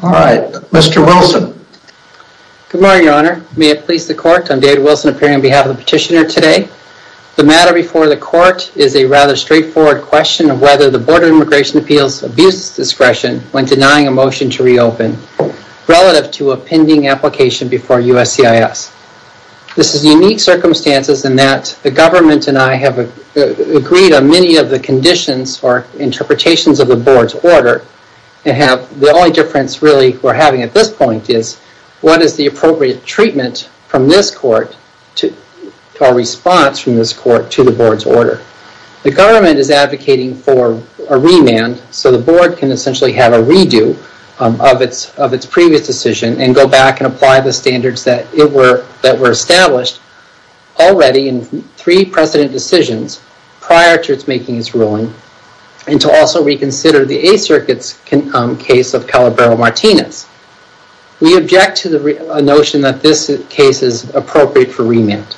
All right, Mr. Wilson. Good morning, your honor. May it please the court, I'm David Wilson appearing on behalf of the petitioner today. The matter before the court is a rather immigration appeals abuse discretion when denying a motion to reopen, relative to a pending application before USCIS. This is unique circumstances in that the government and I have agreed on many of the conditions or interpretations of the board's order. The only difference really we're having at this point is what is the appropriate treatment from this court to our response from this court to the board's order. The government is advocating for a remand so the board can essentially have a redo of its previous decision and go back and apply the standards that were established already in three precedent decisions prior to its making its ruling, and to also reconsider the A-circuits case of Calabro-Martinez. We object to the notion that this case is appropriate for remand.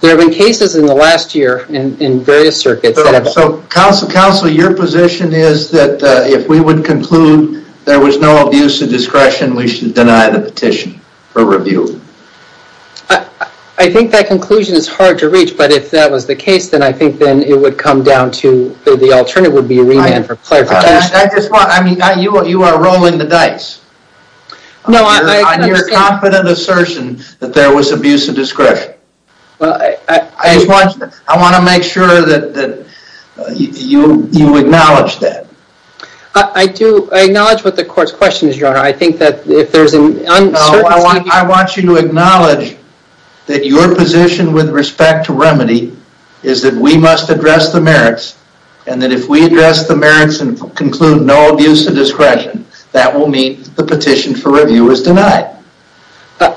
There have been cases in the last year in various circuits. Counsel, your position is that if we would conclude there was no abuse of discretion, we should deny the petition for review. I think that conclusion is hard to reach, but if that was the case then I think then it would come down to the alternative would be remand for clarification. I just want, I mean, you are rolling the dice. No, I'm your confident assertion that there was abuse of discretion. Well, I just want to make sure that you acknowledge that. I do acknowledge what the court's question is, your honor. I think that if there's an uncertainty... No, I want you to acknowledge that your position with respect to remedy is that we must address the merits, and that if we address the merits and conclude no abuse of discretion, that will mean the petition for review is denied.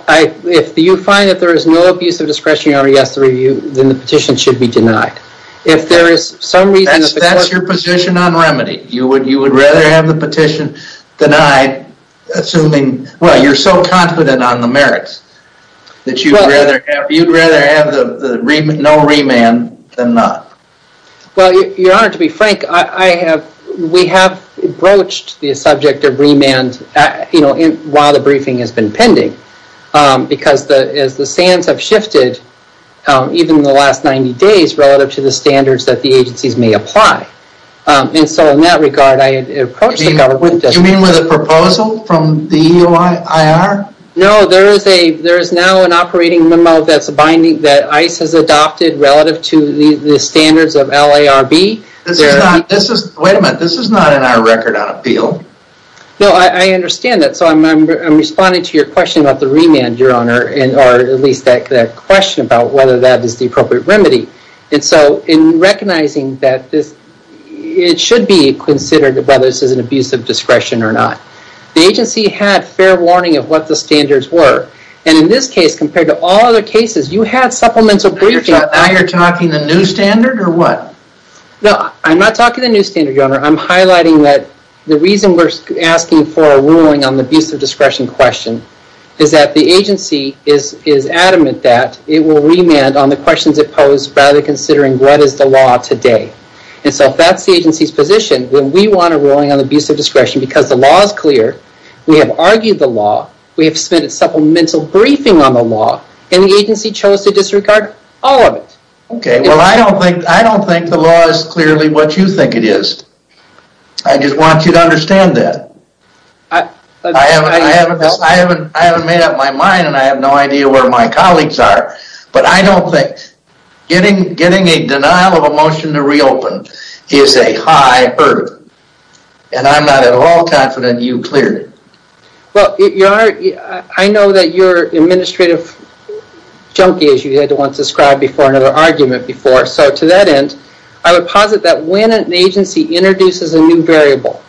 If you find that there is no abuse of discretion, your honor, against the review, then the petition should be denied. If there is some reason... That's your position on remedy. You would rather have the petition denied, assuming, well, you're so confident on the merits that you'd rather have no remand than not. Well, your honor, to be frank, we have broached the subject of remand while the briefing has been pending, because as the sands have shifted, even in the last 90 days, relative to the standards that the agencies may apply. And so in that regard, I had approached the government... You mean with a proposal from the EOIR? No, there is now an operating memo that ICE has adopted relative to the standards of LARB. Wait a minute, this is not in our record on appeal. No, I understand that. So I'm responding to your question about the remand, your honor, or at least that question about whether that is the appropriate remedy. And so in recognizing that it should be considered whether this is an abuse of discretion or not, the agency had fair warning of what the standards were. And in this case, compared to all other cases, you had supplemental briefing... Now you're talking the new standard or what? No, I'm not talking the new standard, your honor. I'm highlighting that the reason we're asking for a ruling on the abuse of discretion question is that the agency is adamant that it will remand on the questions it posed rather than considering what is the law today. And so if that's the agency's position, then we want a ruling on supplemental briefing on the law and the agency chose to disregard all of it. Okay, well I don't think the law is clearly what you think it is. I just want you to understand that. I haven't made up my mind and I have no idea where my colleagues are, but I don't think getting a denial of a motion to reopen is a high hurdle. And I'm not at all confident you cleared it. Well, your honor, I know that you're an administrative junkie, as you had once described before, another argument before. So to that end, I would posit that when an agency introduces a new variable,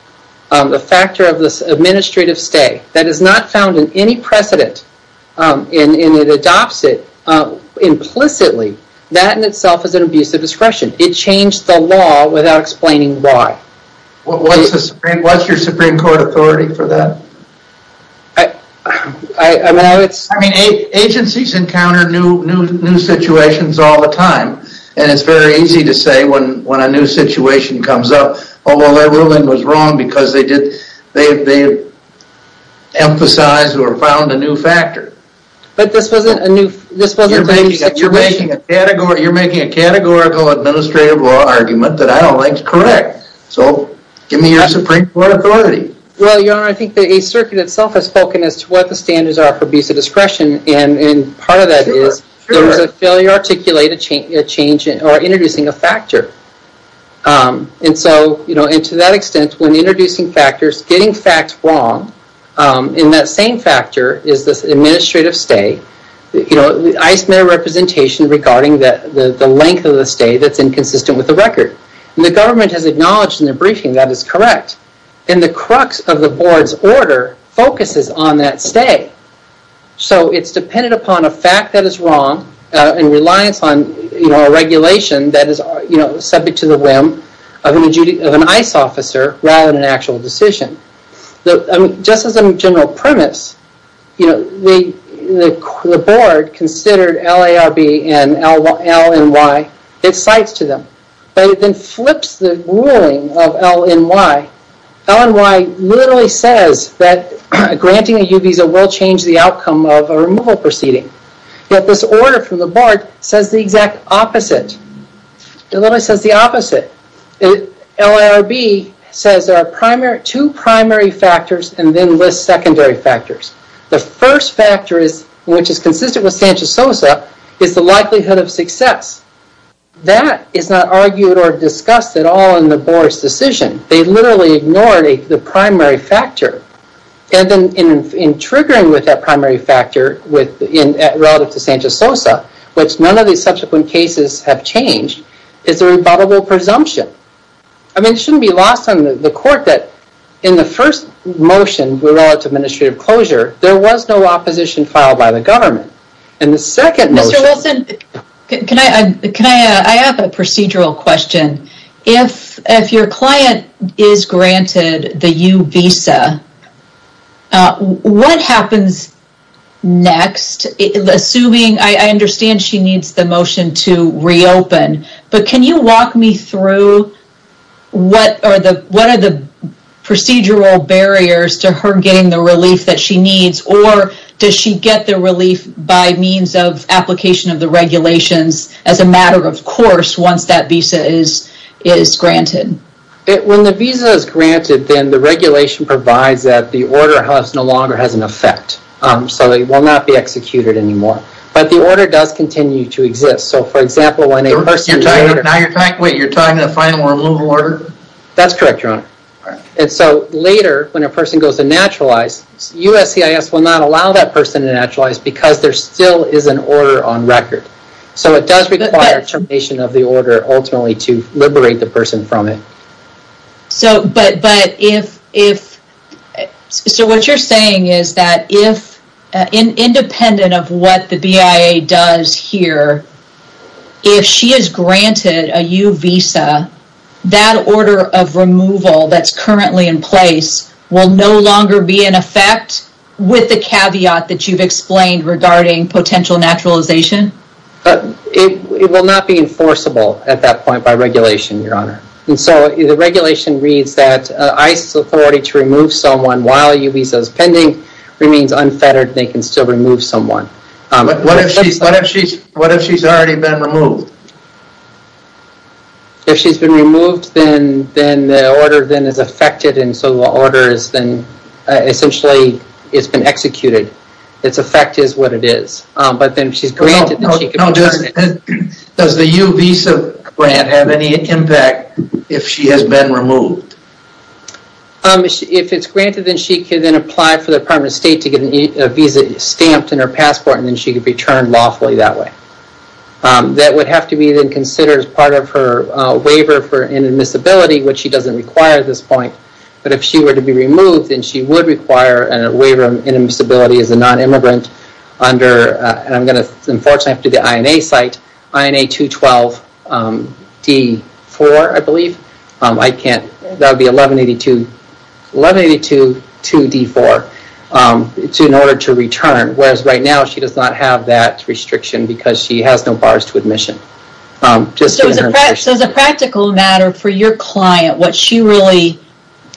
the factor of this administrative stay, that is not found in any precedent and it adopts it implicitly, that in itself is an abuse of discretion. It changed the law without explaining why. What's your Supreme Court authority for that? I mean, agencies encounter new situations all the time and it's very easy to say when a new situation comes up, oh well, their ruling was wrong because they emphasized or found a new factor. But this wasn't a new situation. You're making a categorical administrative law argument that I don't like to correct. So give me your Supreme Court authority. Well, your honor, I think the Eighth Circuit itself has spoken as to what the standards are for abuse of discretion. And part of that is there was a failure to articulate a change or introducing a factor. And so, you know, and to that extent, when introducing factors, getting facts wrong, in that same factor is this administrative stay. You know, I submit a representation regarding the length of the stay that's inconsistent with the record. And the government has acknowledged in their briefing that is correct. And the crux of the board's order focuses on that stay. So it's dependent upon a fact that is wrong and reliance on, you know, a regulation that is, you know, subject to the whim of an ICE officer rather than an actual decision. Just as a general premise, you know, the board considered LARB and LNY its sites to them. But it then flips the ruling of LNY. LNY literally says that granting a U visa will change the outcome of a removal proceeding. Yet this order from the board says the exact opposite. It literally says the opposite. LARB says there are two primary factors and then lists secondary factors. The first factor is, which is consistent with Sanchez-Sosa, is the likelihood of success. That is not argued or discussed at all in the board's decision. They literally ignored the primary factor. And then in triggering with that primary factor relative to Sanchez-Sosa, which none of these subsequent cases have changed, is the rebuttable presumption. I mean, it shouldn't be lost on the court that in the first motion relative to administrative closure, there was no opposition filed by the government. And the second motion... Mr. Wilson, can I, I have a procedural question. If your client is granted the U visa, what happens next? Assuming, I understand she needs the motion to reopen, but can you walk me through what are the procedural barriers to her getting the relief that she needs? Or does she get the relief by means of application of the regulations as a matter of course once that visa is granted? When the visa is granted, then the regulation provides that the order has no longer has an effect. So it will not be executed anymore. But the order does continue to exist. So for example, when a person... Wait, you're talking to the final removal order? That's correct, Your Honor. And so later when a person goes to naturalize, USCIS will not allow that person to naturalize because there still is an order on record. So it does require termination of the order ultimately to liberate the person from it. So, but if, so what you're saying is that if independent of what the BIA does here, if she is granted a U visa, that order of removal that's currently in place will no longer be in effect with the caveat that you've explained regarding potential naturalization? It will not be enforceable at that point by regulation, Your Honor. And so the regulation reads that ICE's authority to remove someone while a U visa is pending remains unfettered. They can still remove someone. What if she's already been removed? If she's been removed, then the order then is affected. And so the order is then but then if she's granted... Does the U visa grant have any impact if she has been removed? If it's granted, then she can then apply for the Department of State to get a visa stamped in her passport and then she could be returned lawfully that way. That would have to be then considered as part of her waiver for inadmissibility, which she doesn't require at this point. But if she were to be removed, then she would require a waiver of inadmissibility as a non-immigrant under... And I'm going to unfortunately have to do the INA site, INA 212 D4, I believe. That would be 1182 2D4 in order to return. Whereas right now she does not have that restriction because she has no bars to admission. So as a practical matter for your client, what she really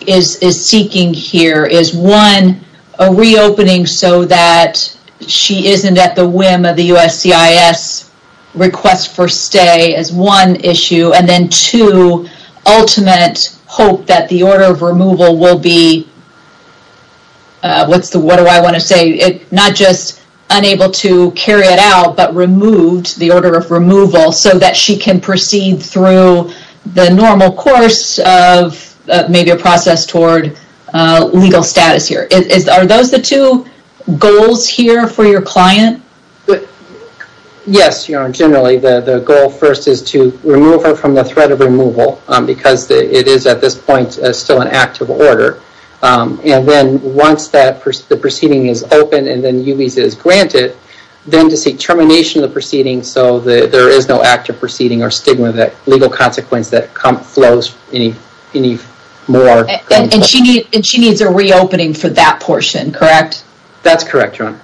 is seeking here is one, a reopening so that she isn't at the whim of the USCIS request for stay as one issue. And then two, ultimate hope that the order of removal will be... What do I want to say? Not just unable to carry it out, but removed the order of removal so that she can proceed through the normal course of maybe a process toward legal status here. Are those the two goals here for your client? Yes. Generally, the goal first is to remove her from the threat of removal because it is at this point still an active order. And then once the proceeding is open and then UBISA is granted, then to seek termination of the proceeding so there is no active proceeding or stigma that legal consequence that flows any more. And she needs a reopening for that portion, correct? That's correct, Your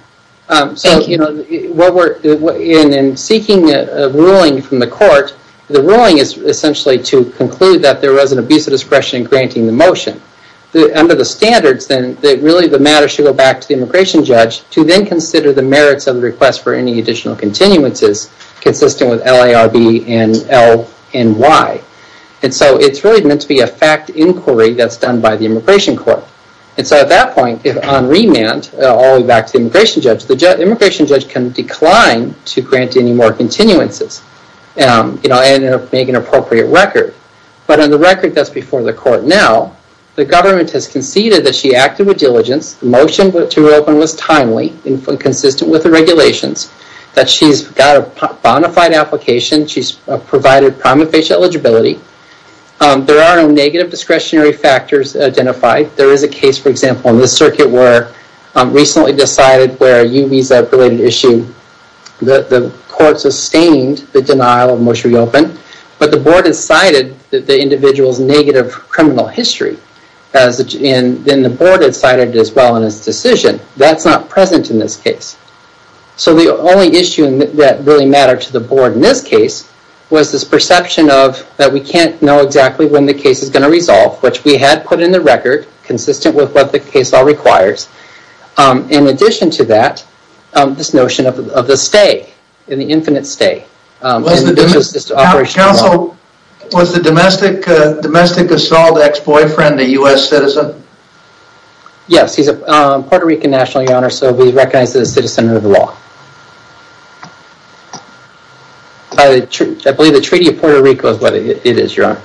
Honor. Thank you. In seeking a ruling from the court, the ruling is essentially to conclude that there was an abuse of discretion in granting the motion. Under the standards, then really the matter should go back to the immigration judge to then consider the merits of the request for any additional continuances consistent with LARB and LNY. And so it's really meant to be a fact inquiry that's done by the immigration court. And so at that point, on remand, all the way back to the immigration judge, the immigration judge can decline to grant any more continuances and make an appropriate record. But on the record that's before the court now, the government has conceded that she acted with diligence, the motion to reopen was timely and consistent with the regulations, that she's got a bona fide application, she's provided prima facie eligibility. There are no negative discretionary factors identified. There is a case, for example, in the circuit where recently decided where a UBISA-related issue, the court sustained the denial of motion to reopen, but the board decided that the individual's negative criminal history, and then the board decided as well in its decision, that's not present in this case. So the only issue that really mattered to the board in this case was this perception of that we can't know exactly when the case is going to resolve, which we had put in the record consistent with what the case law requires. In addition to that, this notion of the stay, the infinite stay. Was the domestic assault ex-boyfriend a U.S. citizen? Yes, he's a Puerto Rican national, your honor, so he's recognized as a citizen under the law. I believe the Treaty of Puerto Rico is what it is, your honor.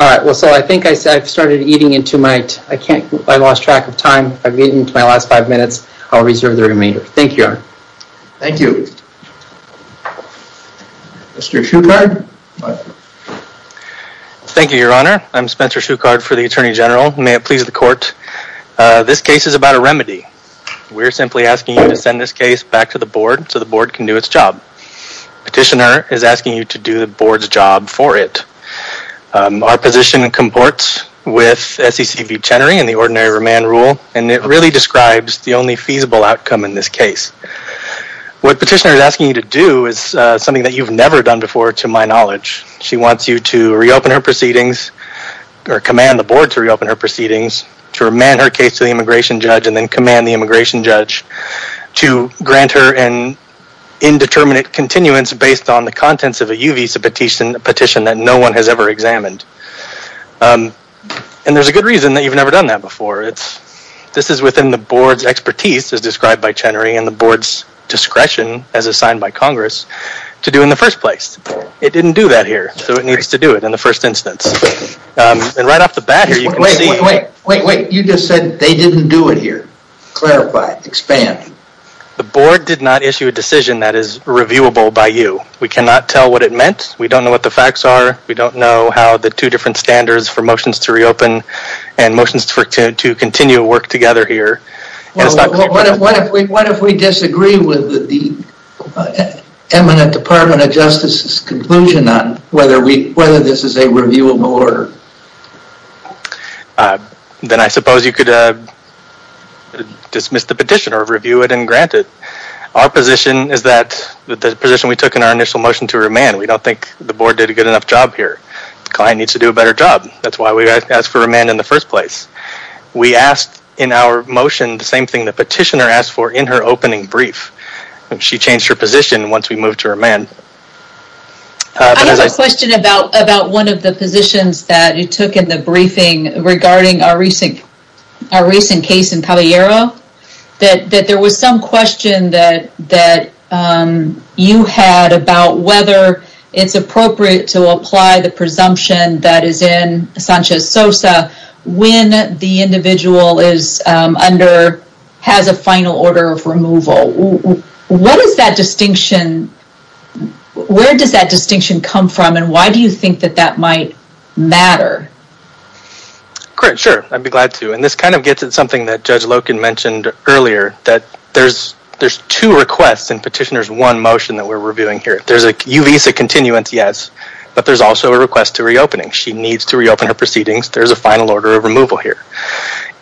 All right, well, so I think I've started eating into my, I can't, I lost track of time. I've eaten into my last five minutes. I'll reserve the remainder. Thank you, your honor. Thank you. Mr. Shukard. Thank you, your honor. I'm Spencer Shukard for the Attorney General. May it please the court. This case is about a remedy. We're simply asking you to send this case back to the U.S. to do the board's job for it. Our position comports with S.E.C. v. Chenery and the ordinary remand rule, and it really describes the only feasible outcome in this case. What petitioner is asking you to do is something that you've never done before to my knowledge. She wants you to reopen her proceedings or command the board to reopen her proceedings, to remand her case to the immigration judge, and then command the immigration judge to grant her an indeterminate continuance based on the contents of a U.V. petition that no one has ever examined. And there's a good reason that you've never done that before. It's, this is within the board's expertise as described by Chenery and the board's discretion as assigned by Congress to do in the first place. It didn't do that here, so it needs to do it in the first instance. And right off the bat here, you can see... Wait, wait, wait, wait, you just said they didn't do it here. Clarify, expand. The board did not issue a decision that is reviewable by you. We cannot tell what it meant. We don't know what the facts are. We don't know how the two different standards for motions to reopen and motions to continue to work together here. What if we disagree with the eminent Department of Justice's conclusion on whether this is a reviewable order? Then I suppose you could dismiss the petition or review it and grant it. Our position is that the position we took in our initial motion to remand, we don't think the board did a good enough job here. The client needs to do a better job. That's why we asked for remand in the first place. We asked in our motion the same thing the petitioner asked for in her opening brief. She changed her position once we moved to remand. I have a question about one of the positions that you took in the briefing regarding our recent case in Palo Ero, that there was some question that you had about whether it's appropriate to apply the presumption that is in SOSA when the individual has a final order of removal. Where does that distinction come from and why do you think that might matter? Sure, I'd be glad to. This kind of gets at something that Judge Loken mentioned earlier that there's two requests in petitioner's one motion that we're reviewing here. There's a uvisa continuance, yes, but there's also a request to reopening. She needs to reopen her proceedings. There's a final order of removal here.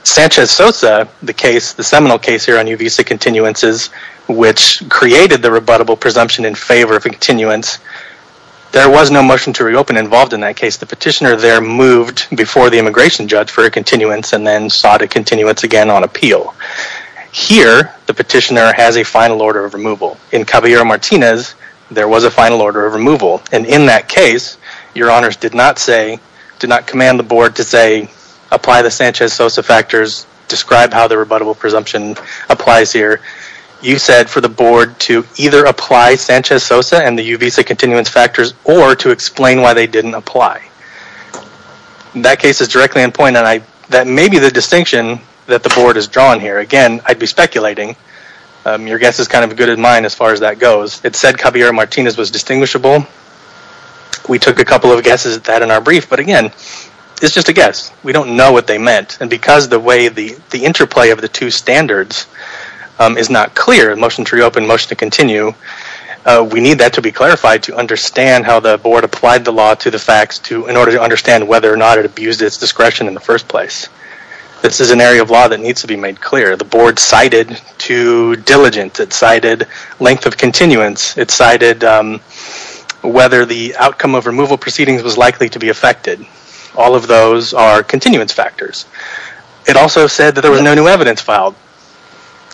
Sanchez SOSA, the case, the seminal case here on uvisa continuances, which created the rebuttable presumption in favor of a continuance, there was no motion to reopen involved in that case. The petitioner there moved before the immigration judge for a continuance and then sought a continuance again on appeal. Here, the petitioner has a final order of removal. In Caballero Martinez, there was a final order of removal and in that case, your honors did not say, did not command the board to say, apply the Sanchez SOSA factors, describe how the rebuttable presumption applies here. You said for the board to either apply Sanchez SOSA and the uvisa continuance factors or to explain why they didn't apply. That case is directly in point and that may be the distinction that the board has drawn here. Again, I'd be speculating. Your guess is kind of good in as far as that goes. It said Caballero Martinez was distinguishable. We took a couple of guesses at that in our brief, but again, it's just a guess. We don't know what they meant and because the way the interplay of the two standards is not clear, motion to reopen, motion to continue, we need that to be clarified to understand how the board applied the law to the facts in order to understand whether or not it abused its discretion in the first place. This is an cited to diligent. It cited length of continuance. It cited whether the outcome of removal proceedings was likely to be affected. All of those are continuance factors. It also said that there was no new evidence filed.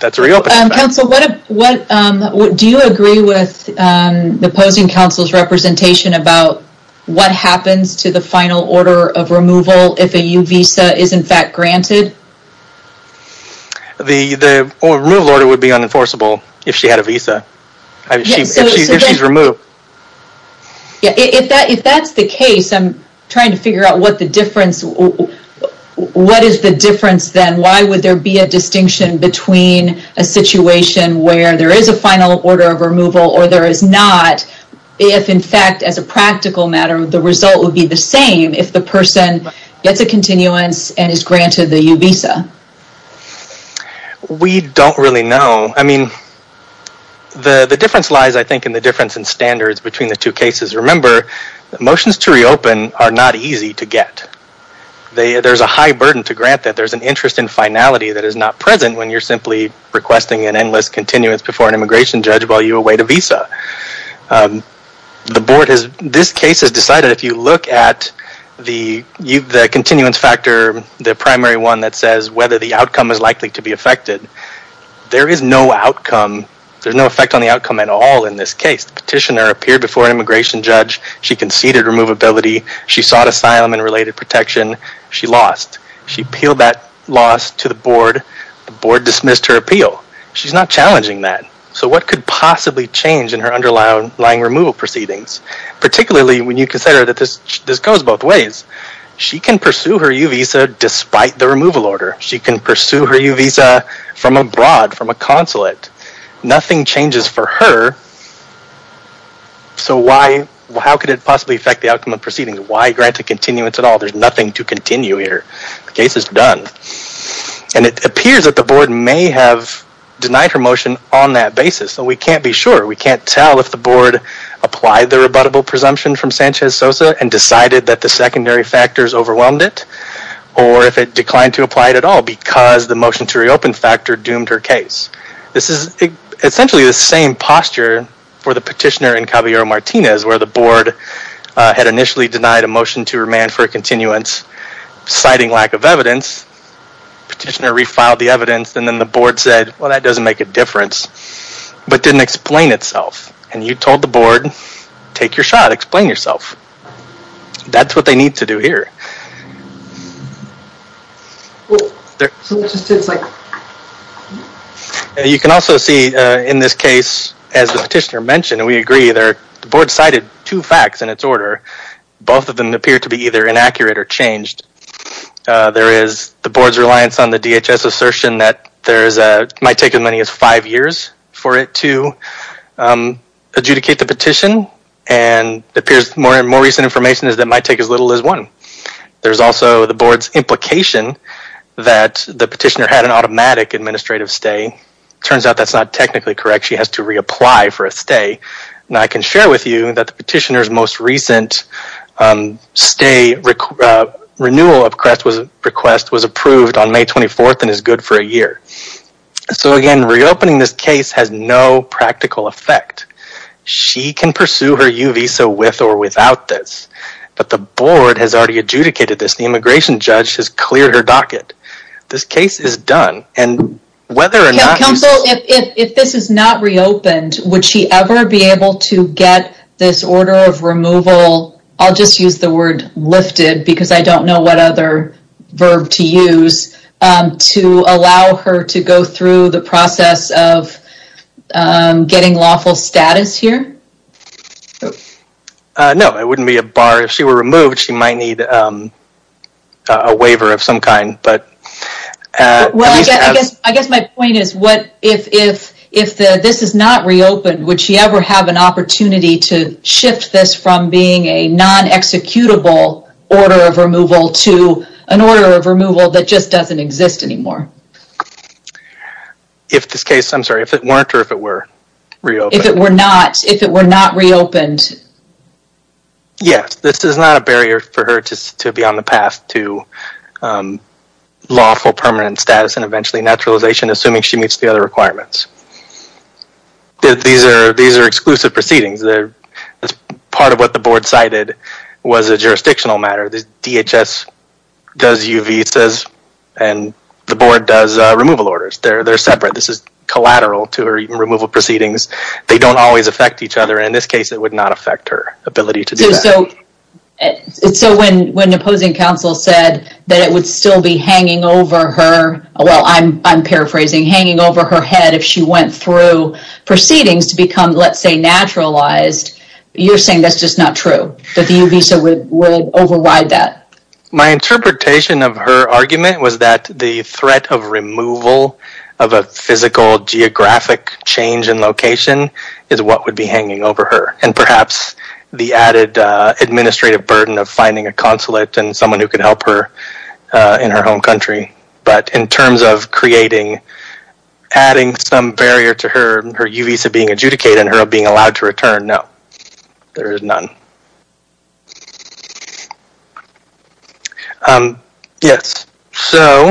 That's a reopening factor. Counsel, do you agree with the opposing counsel's representation about what happens to the final order of removal if a uvisa is in fact granted? The removal order would be unenforceable if she had a visa, if she's removed. Yeah, if that's the case, I'm trying to figure out what the difference, what is the difference then? Why would there be a distinction between a situation where there is a final order of removal or there is not, if in fact as a practical matter, the result would be the same if the person gets a continuance and is granted the uvisa? We don't really know. I mean, the difference lies I think in the difference in standards between the two cases. Remember, motions to reopen are not easy to get. There's a high burden to grant that there's an interest in finality that is not present when you're simply requesting an endless continuance before an immigration judge while you await a visa. The board has, this case has decided if you look at the continuance factor, the primary one that says whether the outcome is likely to be affected, there is no outcome, there's no effect on the outcome at all in this case. The petitioner appeared before an immigration judge. She conceded removability. She sought asylum and related protection. She lost. She appealed that loss to the board. The board dismissed her appeal. She's not challenging that. So what could possibly change in her underlying removal proceedings? Particularly when you consider that this goes both ways. She can pursue her uvisa despite the removal order. She can pursue her uvisa from abroad, from a consulate. Nothing changes for her. So why, how could it possibly affect the outcome of proceedings? Why grant a continuance at all? There's nothing to continue here. The case is done. And it appears that the board may have denied her motion on that basis. So we can't be sure. We can't tell if the board applied the rebuttable presumption from Sanchez-Sosa and decided that the secondary factors overwhelmed it or if it declined to apply it at all because the motion to reopen factor doomed her case. This is essentially the same posture for the petitioner in Caballero-Martinez where the board had initially denied a motion to remand for a continuance citing lack of evidence. Petitioner refiled the evidence and then the board said well that doesn't make a difference but didn't explain itself and you told the board take your shot, explain yourself. That's what they need to do here. You can also see in this case as the petitioner mentioned and we agree there the board cited two facts in its order. Both of them appear to be either inaccurate or changed. There is the board's reliance on the DHS assertion that there's a might take as many as five years for it to adjudicate the petition and appears more and more recent information is that might take as little as one. There's also the board's implication that the petitioner had an automatic administrative stay. Turns out that's not technically correct. She has to reapply for a stay. Now I can share with you that the petitioner's most recent stay renewal request was approved on May 24th and is good for a year. So again reopening this case has no practical effect. She can pursue her U visa with or without this but the board has already adjudicated this. The immigration judge has cleared her docket. This case is done and whether or not... If this is not reopened would she ever be able to get this order of removal, I'll just use the word lifted because I don't know what other verb to use, to allow her to go through the process of getting lawful status here? No it wouldn't be a bar. If she were removed she might need a waiver of some kind but... I guess my point is what if this is not reopened would she ever have an opportunity to non-executable order of removal to an order of removal that just doesn't exist anymore? If this case, I'm sorry, if it weren't or if it were reopened? If it were not reopened? Yes this is not a barrier for her to be on the path to lawful permanent status and eventually naturalization assuming she meets the other requirements. These are exclusive proceedings. That's part of what the board cited was a jurisdictional matter. The DHS does UVs and the board does removal orders. They're separate. This is collateral to her removal proceedings. They don't always affect each other. In this case it would not affect her ability to do that. So when an opposing counsel said that it would still be hanging over her, well I'm paraphrasing, hanging over her head if she went through proceedings to become let's say naturalized, you're saying that's just not true? That the Uvisa would override that? My interpretation of her argument was that the threat of removal of a physical geographic change in location is what would be hanging over her and perhaps the added administrative burden of finding a consulate and someone who could help her in her home country. But in terms of creating adding some barrier to her Uvisa being adjudicated and her being allowed to return, no, there is none. Yes, so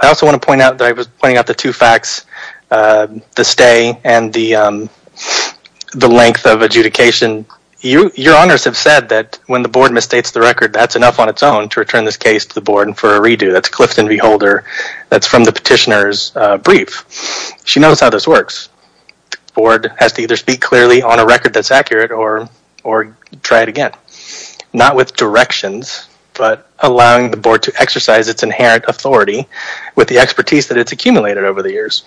I also want to point out that I was pointing out the two facts, the stay and the length of adjudication. Your honors have said that when the board misstates the record that's enough on its own to return this case to the board and for a redo. That's petitioner's brief. She knows how this works. The board has to either speak clearly on a record that's accurate or try it again. Not with directions, but allowing the board to exercise its inherent authority with the expertise that it's accumulated over the years.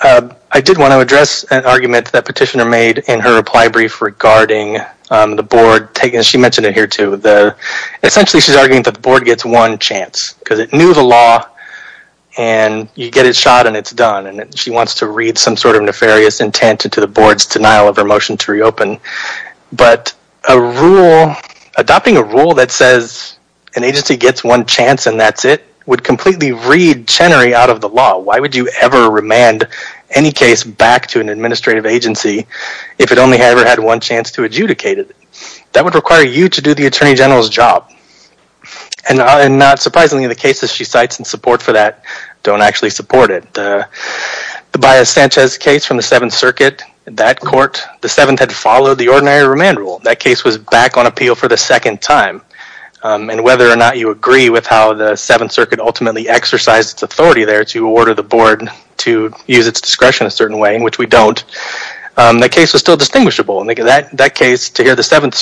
I did want to address an argument that petitioner made in her reply brief regarding the board, she mentioned it here too, essentially she's arguing that the board gets one chance because it knew the law and you get it shot and it's done and she wants to read some sort of nefarious intent into the board's denial of her motion to reopen. But adopting a rule that says an agency gets one chance and that's it would completely read Chenery out of the law. Why would you ever remand any case back to an administrative agency if it only ever had one chance to adjudicate it? That would require you to do the attorney general's job. And not surprisingly, the cases she cites in support for that don't actually support it. The Baez-Sanchez case from the 7th Circuit, that court, the 7th had followed the ordinary remand rule. That case was back on appeal for the second time. And whether or not you agree with how the 7th Circuit ultimately exercised its authority there to order the board to use its discretion a certain way, which we don't, that case was still distinguishable. In that case, to hear the 7th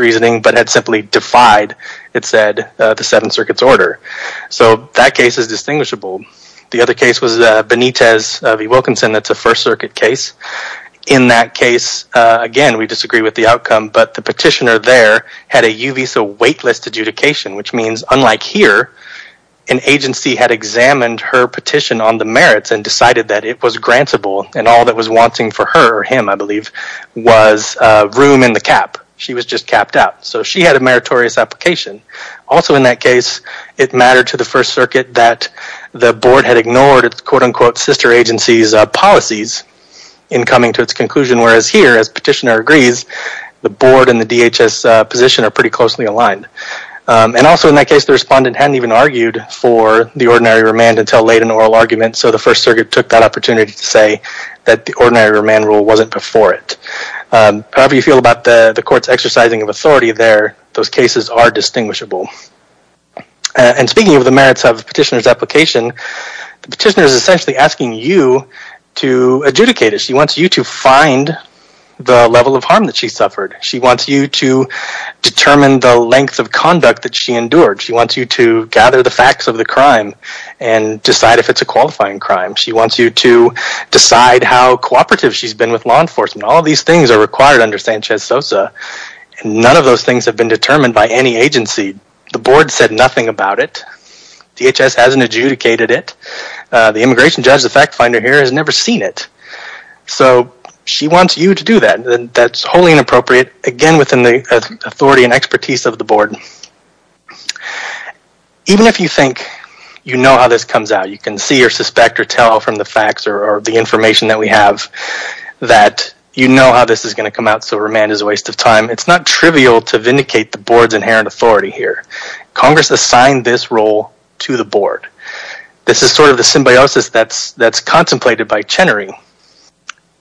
reasoning but had simply defied, it said, the 7th Circuit's order. So that case is distinguishable. The other case was Benitez v. Wilkinson, that's a 1st Circuit case. In that case, again, we disagree with the outcome, but the petitioner there had a Uvisa waitlist adjudication, which means unlike here, an agency had examined her petition on the merits and decided that it was grantable and all that was wanting for her, or him, I believe, was room in the cap. She was just capped out. So she had a meritorious application. Also in that case, it mattered to the 1st Circuit that the board had ignored its quote-unquote sister agency's policies in coming to its conclusion, whereas here, as petitioner agrees, the board and the DHS position are pretty closely aligned. And also in that case, the respondent hadn't even argued for the ordinary remand until late in oral argument, so the 1st Circuit argued that the ordinary remand rule wasn't before it. However you feel about the court's exercising of authority there, those cases are distinguishable. And speaking of the merits of the petitioner's application, the petitioner is essentially asking you to adjudicate it. She wants you to find the level of harm that she suffered. She wants you to determine the length of conduct that she endured. She wants you to gather the facts of the crime and decide if it's a qualifying crime. She wants you to decide how cooperative she's been with law enforcement. All these things are required under Sanchez-Sosa, and none of those things have been determined by any agency. The board said nothing about it. DHS hasn't adjudicated it. The immigration judge, the fact finder here, has never seen it. So she wants you to do that. That's wholly inappropriate, again within the authority and expertise of the board. Even if you think you know how this comes out, you can see or suspect from the facts or the information that we have that you know how this is going to come out, so remand is a waste of time. It's not trivial to vindicate the board's inherent authority here. Congress assigned this role to the board. This is sort of the symbiosis that's contemplated by Chenery.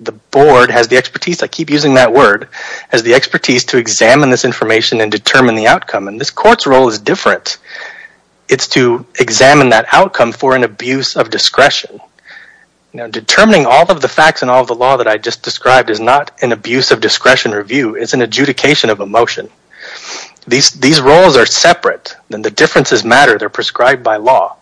The board has the expertise, I keep using that word, has the expertise to examine this information and determine the outcome. And this court's role is different. It's to determine all of the facts and all of the law that I just described is not an abuse of discretion review, it's an adjudication of emotion. These roles are separate, and the differences matter, they're prescribed by law.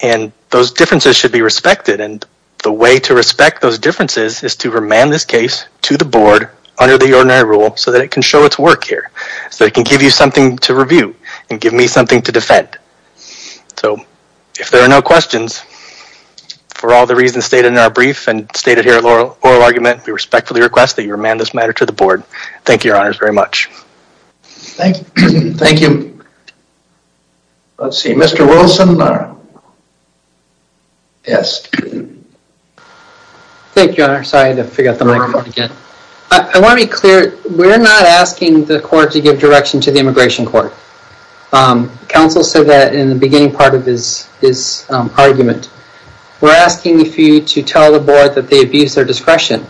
And those differences should be respected, and the way to respect those differences is to remand this case to the board under the ordinary rule so that it can show its work here. So it can give you something to review and give me something to defend. So if there are questions, for all the reasons stated in our brief and stated here in the oral argument, we respectfully request that you remand this matter to the board. Thank you, your honors, very much. Thank you. Let's see, Mr. Wilson. Yes. Thank you, your honor. Sorry, I forgot the microphone again. I want to be clear, we're not asking the court to give direction to the immigration court. Counsel said that in the beginning part of his argument. We're asking for you to tell the board that they abuse their discretion,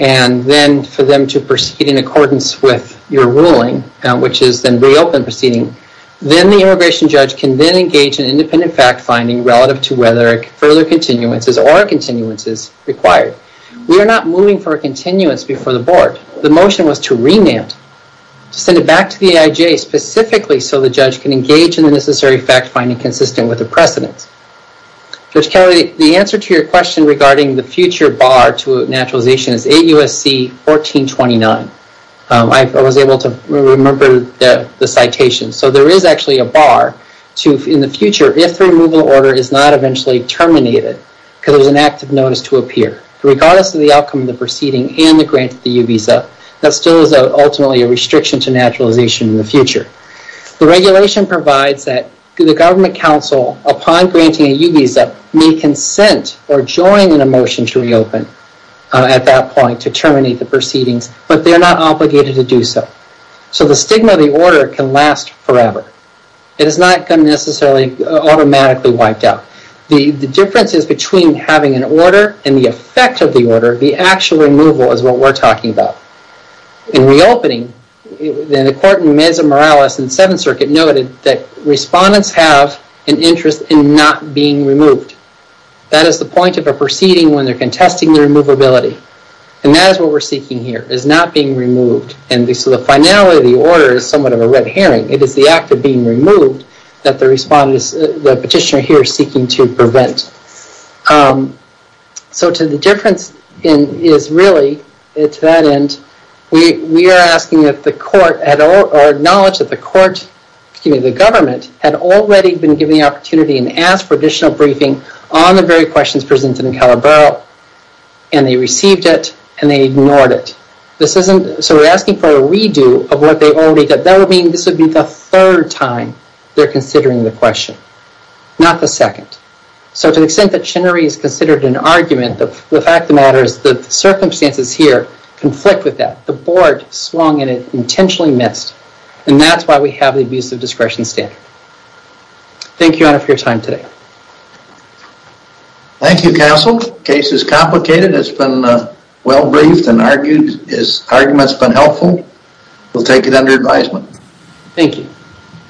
and then for them to proceed in accordance with your ruling, which is then reopen proceeding. Then the immigration judge can then engage in independent fact-finding relative to whether further continuances or continuances required. We are not moving for a continuance before the board. The motion was to remand, to send it back to the AIJ specifically so the judge can engage in the necessary fact-finding consistent with the precedence. Judge Kelly, the answer to your question regarding the future bar to naturalization is 8 U.S.C. 1429. I was able to remember the citation. So there is actually a bar to, in the future, if the removal order is not eventually terminated, because there's an active notice to appear. Regardless of the outcome of the proceeding and the grant to the UBISA, that still is ultimately a restriction to naturalization in the future. The regulation provides that the government counsel, upon granting a UBISA, may consent or join in a motion to reopen at that point to terminate the proceedings, but they're not obligated to do so. So the stigma of the order can last forever. It is not going to necessarily automatically wiped out. The difference is between having an order and the effect of the order. The actual removal is what we're talking about. In reopening, the court in Mesa Morales and Seventh Circuit noted that respondents have an interest in not being removed. That is the point of a proceeding when they're contesting the removability. And that is what we're seeking here, is not being removed. And so the finality of the order is somewhat of a red herring. It is the act of being removed that the petitioner here is seeking to prevent. So to the difference is really, to that end, we are asking that the court, or acknowledge that the court, the government, had already been given the opportunity and asked for additional briefing on the very questions presented in Calabaro. And they received it, and they ignored it. So we're asking for a redo of what they already did. That would mean this would be the third time they're considering the question, not the second. So to the extent that Chenery is considered an abuser, the circumstances here conflict with that. The board swung at it, intentionally missed, and that's why we have the abusive discretion standard. Thank you, Your Honor, for your time today. Thank you, Counsel. The case is complicated. It's been well briefed and argued. His argument's been helpful. We'll take it under advisement. Thank you.